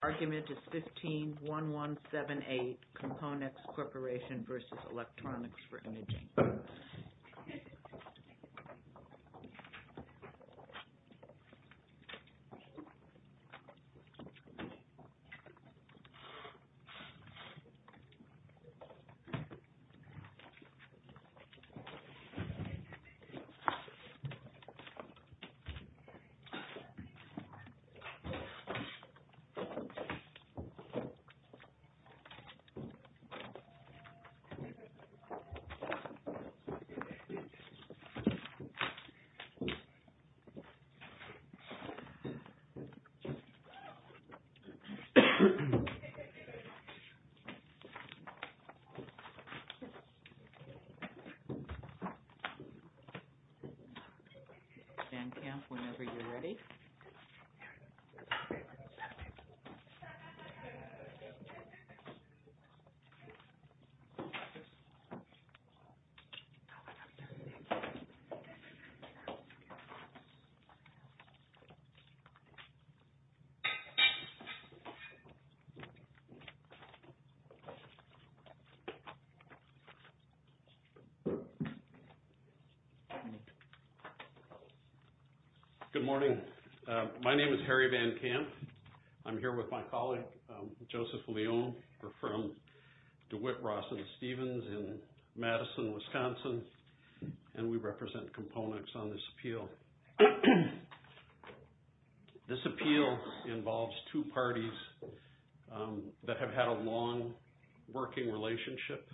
The argument is 15-1178, Componex Corporation v. Electronics for Imaging. The argument is 15-1178, Componex Corporation v. Electronics for Imaging, Inc. Good morning. My name is Harry Van Kamp. I'm here with my colleague Joseph Leon. We're from DeWitt, Ross, and Stevens in Madison, Wisconsin. And we represent Componex on this appeal. This appeal involves two parties that have had a long working relationship.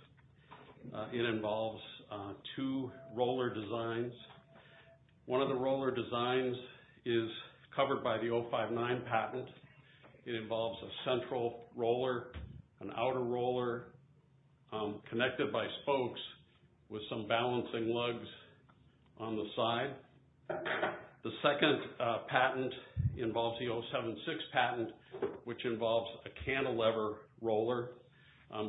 It involves two roller designs. One of the roller designs is covered by the 059 patent. It involves a central roller, an outer roller connected by spokes with some balancing lugs on the side. The second patent involves the 076 patent, which involves a cantilever roller.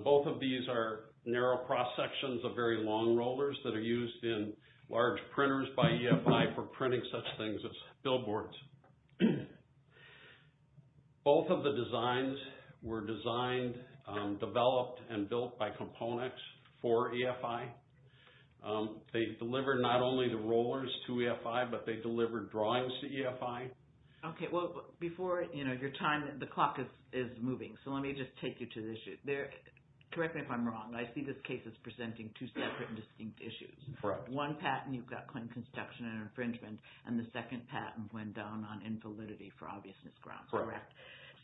Both of these are narrow cross-sections of very long rollers that are used in large printers by EFI for printing such things as billboards. Both of the designs were designed, developed, and built by Componex for EFI. They deliver not only the rollers to EFI, but they deliver drawings to EFI. Okay. Well, before your time, the clock is moving, so let me just take you to the issue. Correct me if I'm wrong. I see this case as presenting two separate and distinct issues. Correct. One patent, you've got claim construction and infringement, and the second patent went down on infalidity for obviousness grounds. Correct.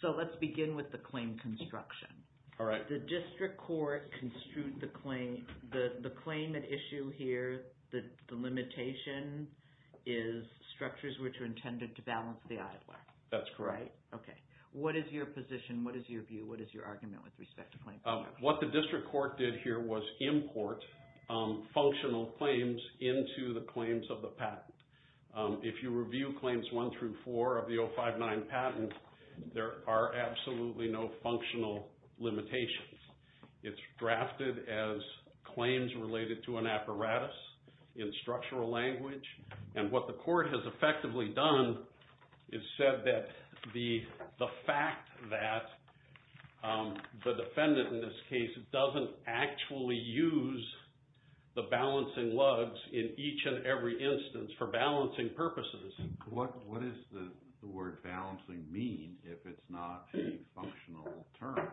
So let's begin with the claim construction. All right. The district court construed the claim. The claim at issue here, the limitation is structures which are intended to balance the idler. That's correct. Okay. What is your position? What is your view? What is your argument with respect to claim construction? What the district court did here was import functional claims into the claims of the patent. If you review claims one through four of the 059 patent, there are absolutely no functional limitations. It's drafted as claims related to an apparatus in structural language. And what the court has effectively done is said that the fact that the defendant in this case doesn't actually use the balancing lugs in each and every instance for balancing purposes. What does the word balancing mean if it's not a functional term?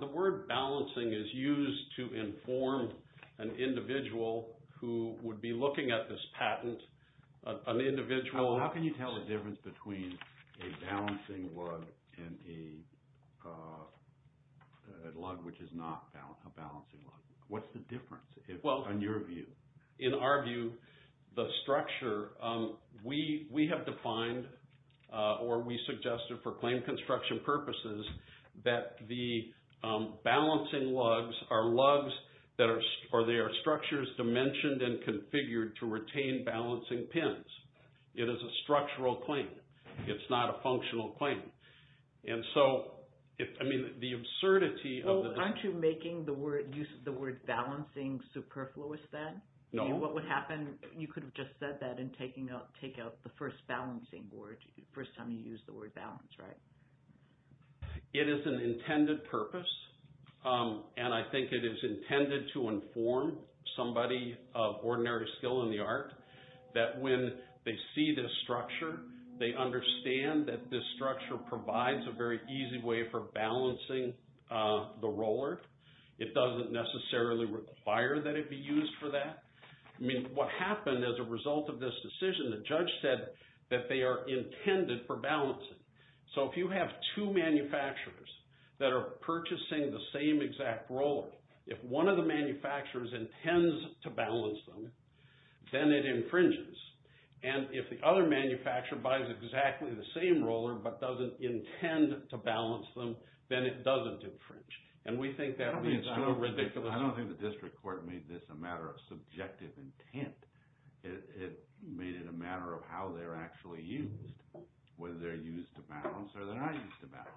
The word balancing is used to inform an individual who would be looking at this patent, an individual. How can you tell the difference between a balancing lug and a lug which is not a balancing lug? What's the difference in your view? In our view, the structure, we have defined or we suggested for claim construction purposes that the balancing lugs are lugs or they are structures dimensioned and configured to retain balancing pins. It is a structural claim. It's not a functional claim. Aren't you making the use of the word balancing superfluous then? No. What would happen, you could have just said that and taken out the first balancing word, the first time you used the word balance, right? It is an intended purpose. And I think it is intended to inform somebody of ordinary skill in the art that when they see this structure, they understand that this structure provides a very easy way for balancing the roller. It doesn't necessarily require that it be used for that. I mean, what happened as a result of this decision, the judge said that they are intended for balancing. So if you have two manufacturers that are purchasing the same exact roller, if one of the manufacturers intends to balance them, then it infringes. And if the other manufacturer buys exactly the same roller but doesn't intend to balance them, then it doesn't infringe. And we think that leads on a ridiculous… I don't think the district court made this a matter of subjective intent. It made it a matter of how they're actually used, whether they're used to balance or they're not used to balance.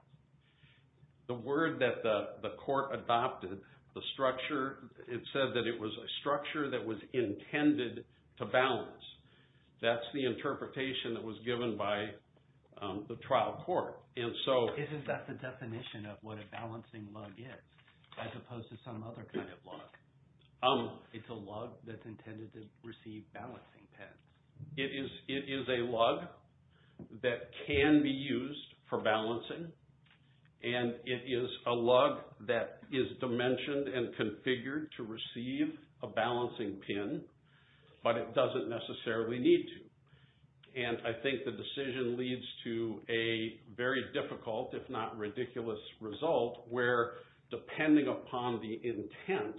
The word that the court adopted, the structure, it said that it was a structure that was intended to balance. That's the interpretation that was given by the trial court. Isn't that the definition of what a balancing lug is as opposed to some other kind of lug? It's a lug that's intended to receive balancing pins. It is a lug that can be used for balancing, and it is a lug that is dimensioned and configured to receive a balancing pin, but it doesn't necessarily need to. And I think the decision leads to a very difficult, if not ridiculous, result where, depending upon the intent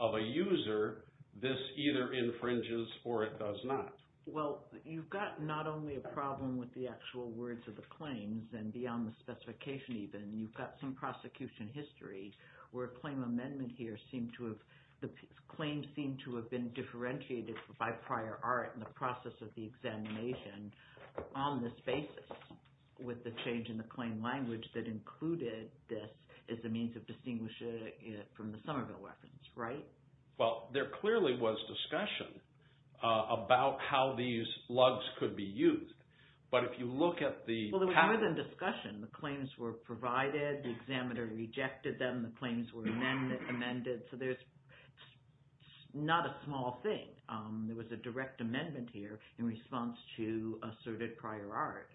of a user, this either infringes or it does not. Well, you've got not only a problem with the actual words of the claims and beyond the specification even. You've got some prosecution history where a claim amendment here seemed to have – the claims seemed to have been differentiated by prior art in the process of the examination on this basis with the change in the claim language that included this as a means of distinguishing it from the Somerville weapons, right? Well, there clearly was discussion about how these lugs could be used, but if you look at the… Well, there was more than discussion. The claims were provided. The examiner rejected them. The claims were amended. So there's not a small thing. There was a direct amendment here in response to asserted prior art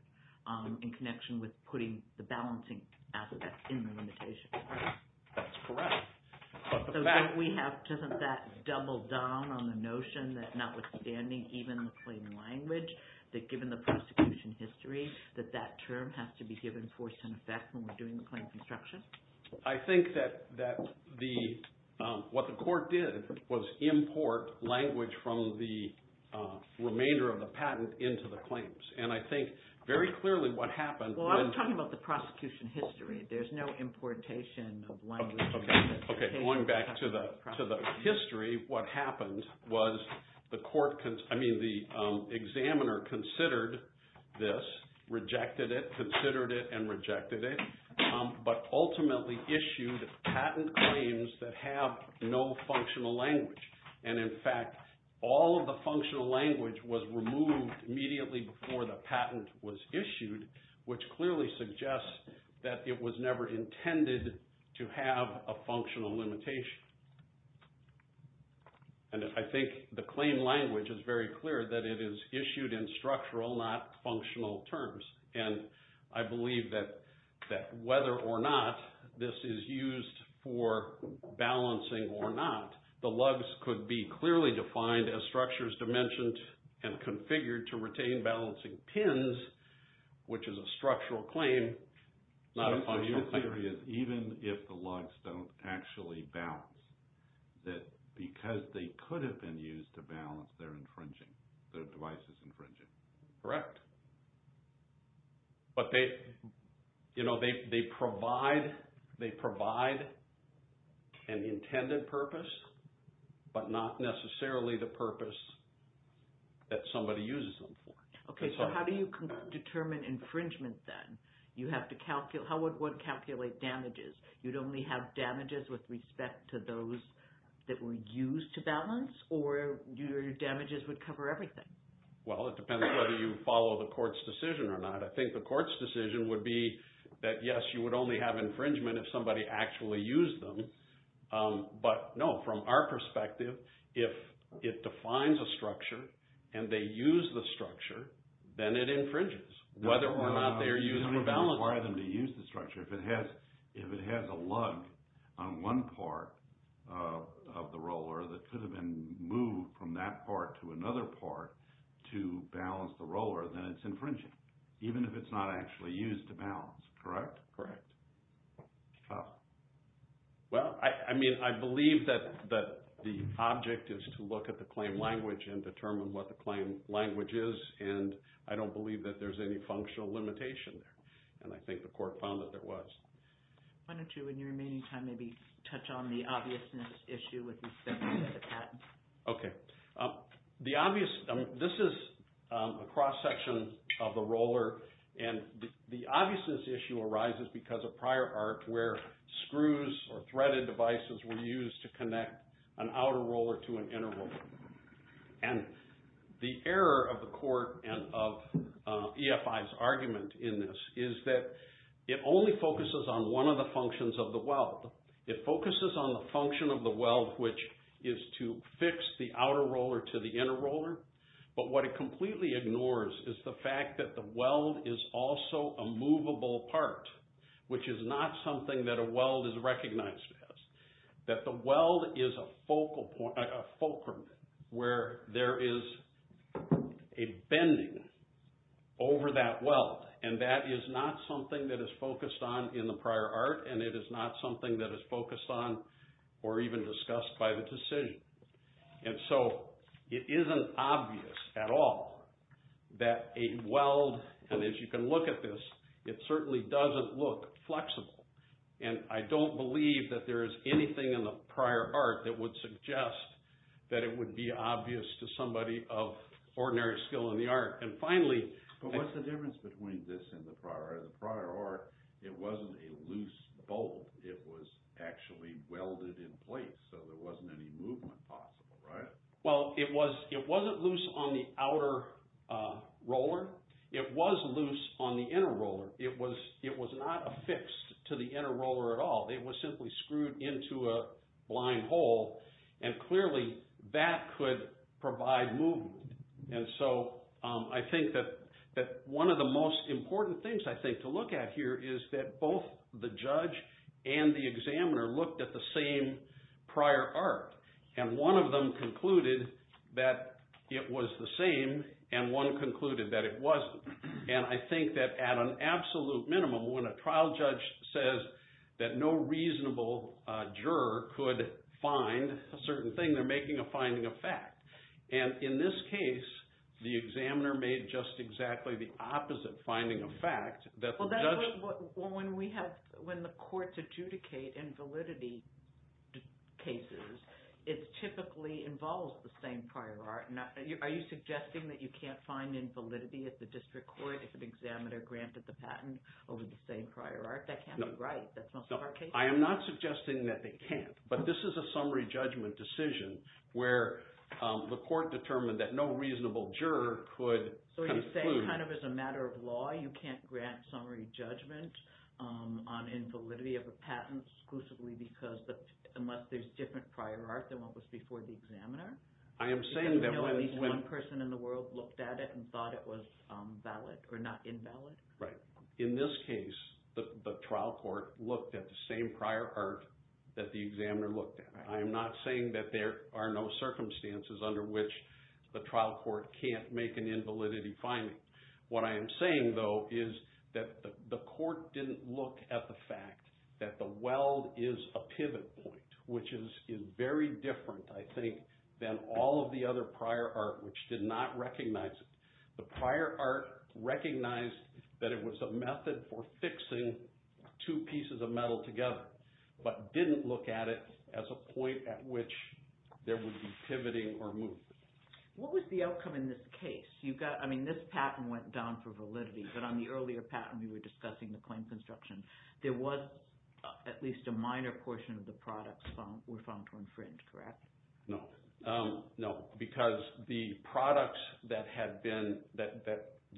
in connection with putting the balancing asset that's in the limitation. That's correct. Doesn't that double down on the notion that notwithstanding even the claim language, that given the prosecution history, that that term has to be given force and effect when we're doing the claim construction? I think that what the court did was import language from the remainder of the patent into the claims. And I think very clearly what happened… Well, I'm talking about the prosecution history. There's no importation of language. Okay. Going back to the history, what happened was the court – I mean the examiner considered this, rejected it, considered it, and rejected it, but ultimately issued patent claims that have no functional language. And in fact, all of the functional language was removed immediately before the patent was issued, which clearly suggests that it was never intended to have a functional limitation. And I think the claim language is very clear that it is issued in structural, not functional terms. And I believe that whether or not this is used for balancing or not, the lugs could be clearly defined as structures dimensioned and configured to retain balancing pins, which is a structural claim, not a functional claim. My theory is even if the lugs don't actually balance, that because they could have been used to balance, they're infringing. Their device is infringing. Correct. But they provide an intended purpose, but not necessarily the purpose that somebody uses them for. Okay. So how do you determine infringement then? You have to calculate – how would one calculate damages? You'd only have damages with respect to those that were used to balance, or your damages would cover everything? Well, it depends whether you follow the court's decision or not. I think the court's decision would be that, yes, you would only have infringement if somebody actually used them, but no, from our perspective, if it defines a structure and they use the structure, then it infringes. Whether or not they are used for balancing. No, you don't even require them to use the structure. If it has a lug on one part of the roller that could have been moved from that part to another part to balance the roller, then it's infringing, even if it's not actually used to balance. Correct? Correct. Well, I mean, I believe that the object is to look at the claim language and determine what the claim language is, and I don't believe that there's any functional limitation there. And I think the court found that there was. Why don't you, in your remaining time, maybe touch on the obviousness issue with respect to the patent? Okay. This is a cross-section of the roller, and the obviousness issue arises because of prior art where screws or threaded devices were used to connect an outer roller to an inner roller. And the error of the court and of EFI's argument in this is that it only focuses on one of the functions of the weld. It focuses on the function of the weld, which is to fix the outer roller to the inner roller, but what it completely ignores is the fact that the weld is also a movable part, which is not something that a weld is recognized as. That the weld is a fulcrum where there is a bending over that weld, and that is not something that is focused on in the prior art, and it is not something that is focused on or even discussed by the decision. And so it isn't obvious at all that a weld, and as you can look at this, it certainly doesn't look flexible, and I don't believe that there is anything in the prior art that would suggest that it would be obvious to somebody of ordinary skill in the art. But what's the difference between this and the prior art? In the prior art, it wasn't a loose bolt. It was actually welded in place, so there wasn't any movement possible, right? Well, it wasn't loose on the outer roller. It was loose on the inner roller. It was not affixed to the inner roller at all. It was simply screwed into a blind hole, and clearly that could provide movement. And so I think that one of the most important things, I think, to look at here is that both the judge and the examiner looked at the same prior art, and one of them concluded that it was the same, and one concluded that it wasn't. And I think that at an absolute minimum, when a trial judge says that no reasonable juror could find a certain thing, they're making a finding of fact. And in this case, the examiner made just exactly the opposite finding of fact. Well, when the courts adjudicate invalidity cases, it typically involves the same prior art. Are you suggesting that you can't find invalidity at the district court if an examiner granted the patent over the same prior art? That can't be right. That's most of our cases. I am not suggesting that they can't, but this is a summary judgment decision where the court determined that no reasonable juror could conclude. So kind of as a matter of law, you can't grant summary judgment on invalidity of a patent exclusively because, unless there's different prior art than what was before the examiner? I am saying that when... Even though at least one person in the world looked at it and thought it was valid, or not invalid? Right. In this case, the trial court looked at the same prior art that the examiner looked at. I am not saying that there are no circumstances under which the trial court can't make an invalidity finding. What I am saying, though, is that the court didn't look at the fact that the weld is a pivot point, which is very different, I think, than all of the other prior art, which did not recognize it. The prior art recognized that it was a method for fixing two pieces of metal together, but didn't look at it as a point at which there would be pivoting or movement. What was the outcome in this case? I mean, this patent went down for validity, but on the earlier patent we were discussing, the claim construction, there was at least a minor portion of the products were found to infringe, correct? No. No, because the products that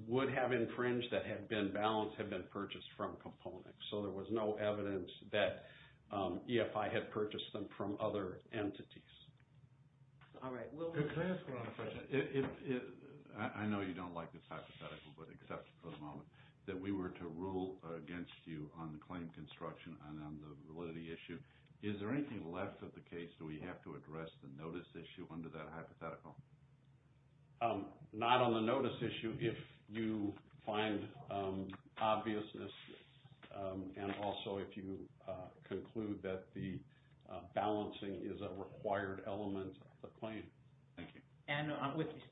would have infringed, that had been balanced, had been purchased from components. So there was no evidence that EFI had purchased them from other entities. Can I ask one other question? I know you don't like this hypothetical, but accept for the moment that we were to rule against you on the claim construction and on the validity issue. Is there anything left of the case do we have to address the notice issue under that hypothetical? Not on the notice issue. If you find obviousness and also if you conclude that the balancing is a required element of the claim. Thank you. And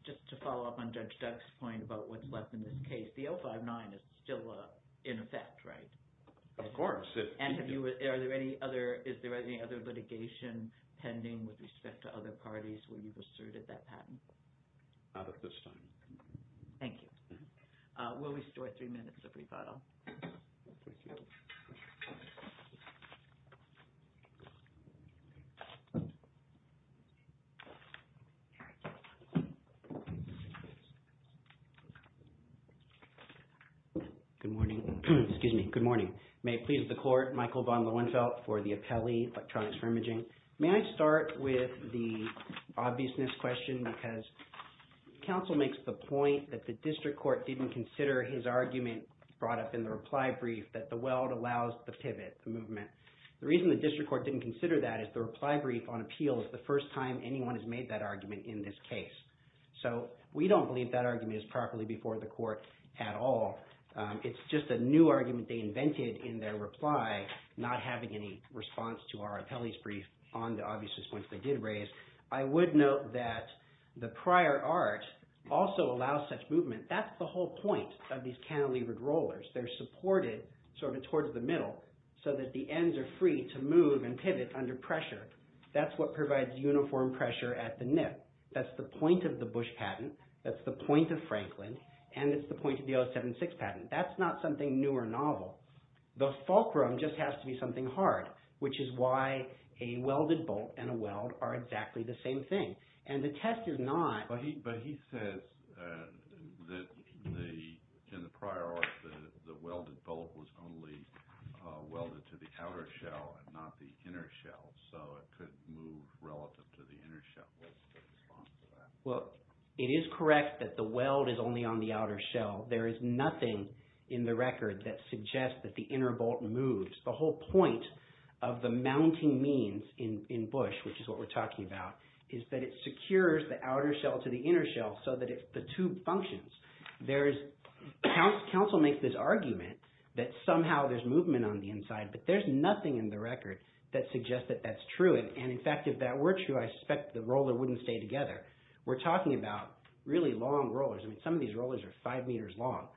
just to follow up on Judge Duck's point about what's left in this case, the 059 is still in effect, right? Of course. And is there any other litigation pending with respect to other parties where you've asserted that patent? Not at this time. Thank you. We'll restore three minutes of rebuttal. Thank you. Good morning. Excuse me. Good morning. May it please the Court, Michael von Lohenfeldt for the appellee, Electronics for Imaging. May I start with the obviousness question because counsel makes the point that the district court didn't consider his argument brought up in the reply brief that the weld allows the pivot movement. The reason the district court didn't consider that is the reply brief on appeal is the first time anyone has made that argument in this case. So we don't believe that argument is properly before the court at all. It's just a new argument they invented in their reply, not having any response to our appellee's brief on the obviousness point they did raise. I would note that the prior art also allows such movement. That's the whole point of these cantilevered rollers. They're supported sort of towards the middle so that the ends are free to move and pivot under pressure. That's what provides uniform pressure at the nip. That's the point of the Bush patent. That's the point of Franklin. And it's the point of the 076 patent. That's not something new or novel. The fulcrum just has to be something hard, which is why a welded bolt and a weld are exactly the same thing. But he says that in the prior art, the welded bolt was only welded to the outer shell and not the inner shell, so it could move relative to the inner shell. What's the response to that? Well, it is correct that the weld is only on the outer shell. There is nothing in the record that suggests that the inner bolt moves. The whole point of the mounting means in Bush, which is what we're talking about, is that it secures the outer shell to the inner shell so that the tube functions. Council makes this argument that somehow there's movement on the inside, but there's nothing in the record that suggests that that's true. And in fact, if that were true, I suspect the roller wouldn't stay together. We're talking about really long rollers. I mean, some of these rollers are five meters long.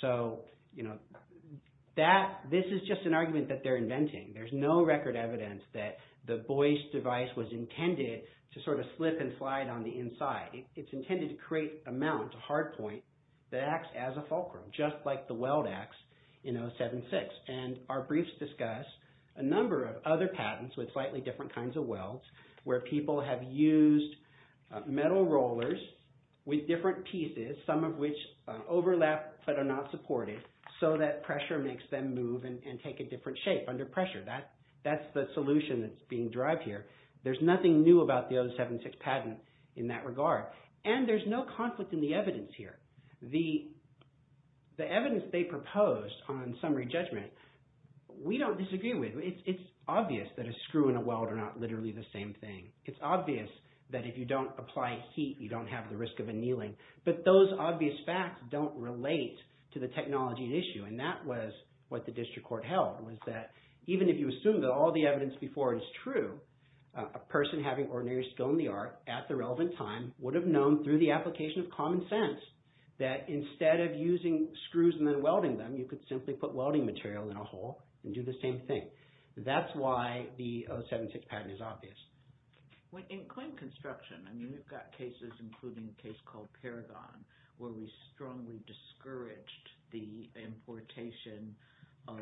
So this is just an argument that they're inventing. There's no record evidence that the Boyce device was intended to sort of slip and slide on the inside. It's intended to create a mount, a hard point, that acts as a fulcrum, just like the weld acts in 076. And our briefs discuss a number of other patents with slightly different kinds of welds where people have used metal rollers with different pieces, some of which overlap but are not supported, so that pressure makes them move and take a different shape under pressure. That's the solution that's being derived here. There's nothing new about the 076 patent in that regard. And there's no conflict in the evidence here. The evidence they proposed on summary judgment, we don't disagree with. It's obvious that a screw and a weld are not literally the same thing. It's obvious that if you don't apply heat, you don't have the risk of annealing. But those obvious facts don't relate to the technology at issue, and that was what the district court held was that even if you assume that all the evidence before is true, a person having ordinary skill in the art at the relevant time would have known through the application of common sense that instead of using screws and then welding them, you could simply put welding material in a hole and do the same thing. That's why the 076 patent is obvious. In claim construction, we've got cases including a case called Paragon where we strongly discouraged the importation of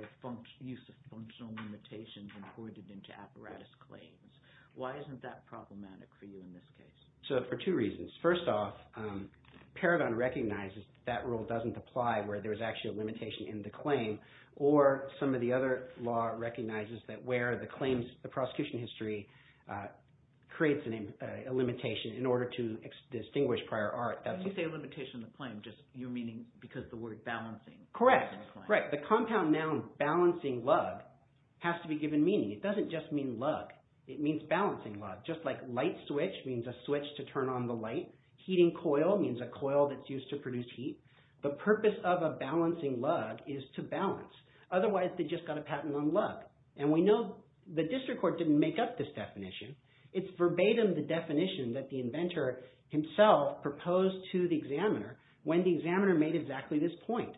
use of functional limitations imported into apparatus claims. Why isn't that problematic for you in this case? So for two reasons. First off, Paragon recognizes that that rule doesn't apply where there's actually a limitation in the claim, or some of the other law recognizes that where the claims – the prosecution history creates a limitation in order to distinguish prior art. When you say limitation in the claim, just – you're meaning because the word balancing. Correct. The compound noun balancing lug has to be given meaning. It doesn't just mean lug. It means balancing lug. Just like light switch means a switch to turn on the light, heating coil means a coil that's used to produce heat. The purpose of a balancing lug is to balance. Otherwise, they just got a patent on lug. And we know the district court didn't make up this definition. It's verbatim the definition that the inventor himself proposed to the examiner when the examiner made exactly this point,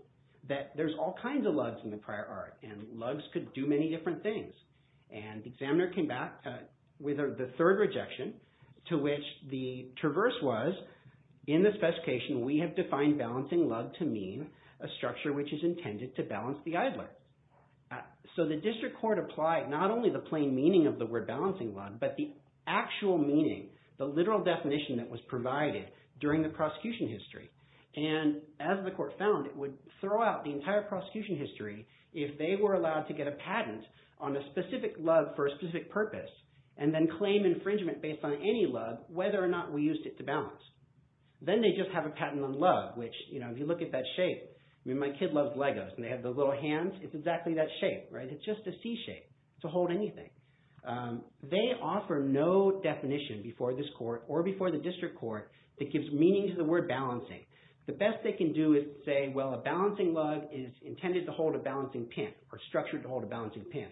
that there's all kinds of lugs in the prior art, and lugs could do many different things. And the examiner came back with the third rejection to which the traverse was, in this specification, we have defined balancing lug to mean a structure which is intended to balance the idler. So the district court applied not only the plain meaning of the word balancing lug, but the actual meaning, the literal definition that was provided during the prosecution history. And as the court found, it would throw out the entire prosecution history if they were allowed to get a patent on a specific lug for a specific purpose and then claim infringement based on any lug whether or not we used it to balance. Then they just have a patent on lug, which if you look at that shape, I mean my kid loves Legos, and they have those little hands. It's exactly that shape. It's just a C shape to hold anything. They offer no definition before this court or before the district court that gives meaning to the word balancing. The best they can do is say, well, a balancing lug is intended to hold a balancing pin or structured to hold a balancing pin.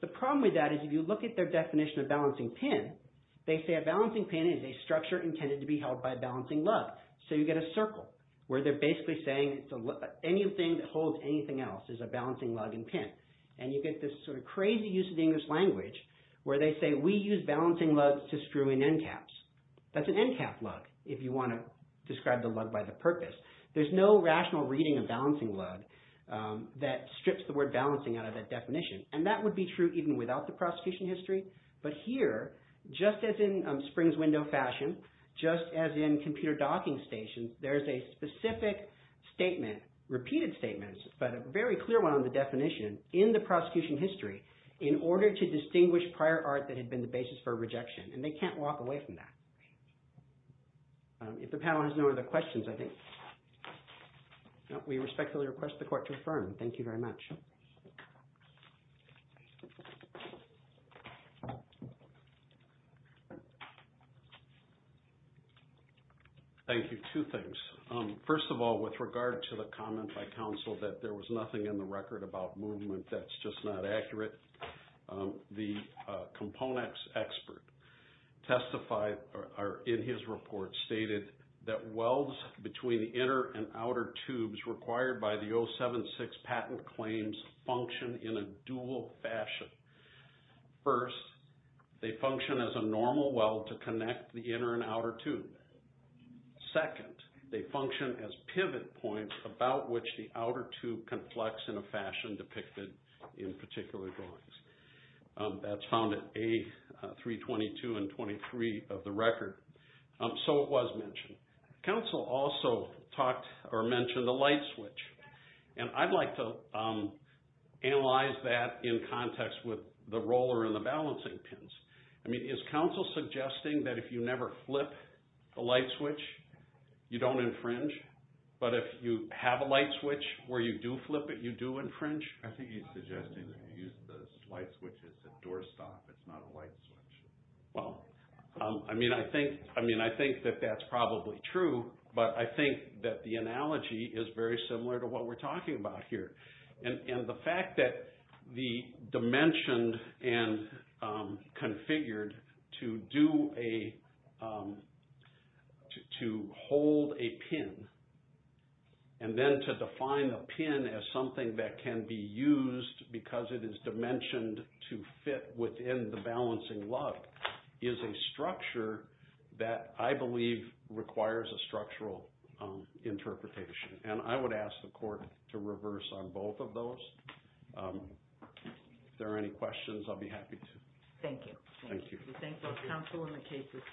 The problem with that is if you look at their definition of balancing pin, they say a balancing pin is a structure intended to be held by a balancing lug. So you get a circle where they're basically saying anything that holds anything else is a balancing lug and pin. And you get this sort of crazy use of the English language where they say we use balancing lugs to screw in end caps. That's an end cap lug if you want to describe the lug by the purpose. There's no rational reading of balancing lug that strips the word balancing out of that definition, and that would be true even without the prosecution history. But here, just as in Springs Window fashion, just as in computer docking stations, there's a specific statement, repeated statements, but a very clear one on the definition in the prosecution history in order to distinguish prior art that had been the basis for rejection. And they can't walk away from that. If the panel has no other questions, I think, we respectfully request the court to affirm. Thank you very much. Thank you. Thank you. Two things. First of all, with regard to the comment by counsel that there was nothing in the record about movement that's just not accurate, the components expert testified in his report stated that welds between the inner and outer tubes required by the 076 patent claims function in a dual fashion. First, they function as a normal weld to connect the inner and outer tube. Second, they function as pivot points about which the outer tube can flex in a fashion depicted in particular drawings. That's found at A322 and 23 of the record. So it was mentioned. Counsel also talked or mentioned the light switch. And I'd like to analyze that in context with the roller and the balancing pins. I mean, is counsel suggesting that if you never flip a light switch, you don't infringe? But if you have a light switch where you do flip it, you do infringe? I think he's suggesting that if you use the light switch, it's a door stop. It's not a light switch. Well, I mean, I think that that's probably true, but I think that the analogy is very similar to what we're talking about here. And the fact that the dimension and configured to hold a pin and then to define a pin as something that can be used because it is dimensioned to fit within the balancing lug is a structure that I believe requires a structural interpretation. And I would ask the court to reverse on both of those. If there are any questions, I'll be happy to. Thank you. Thank you. We thank both counsel and the cases for being here.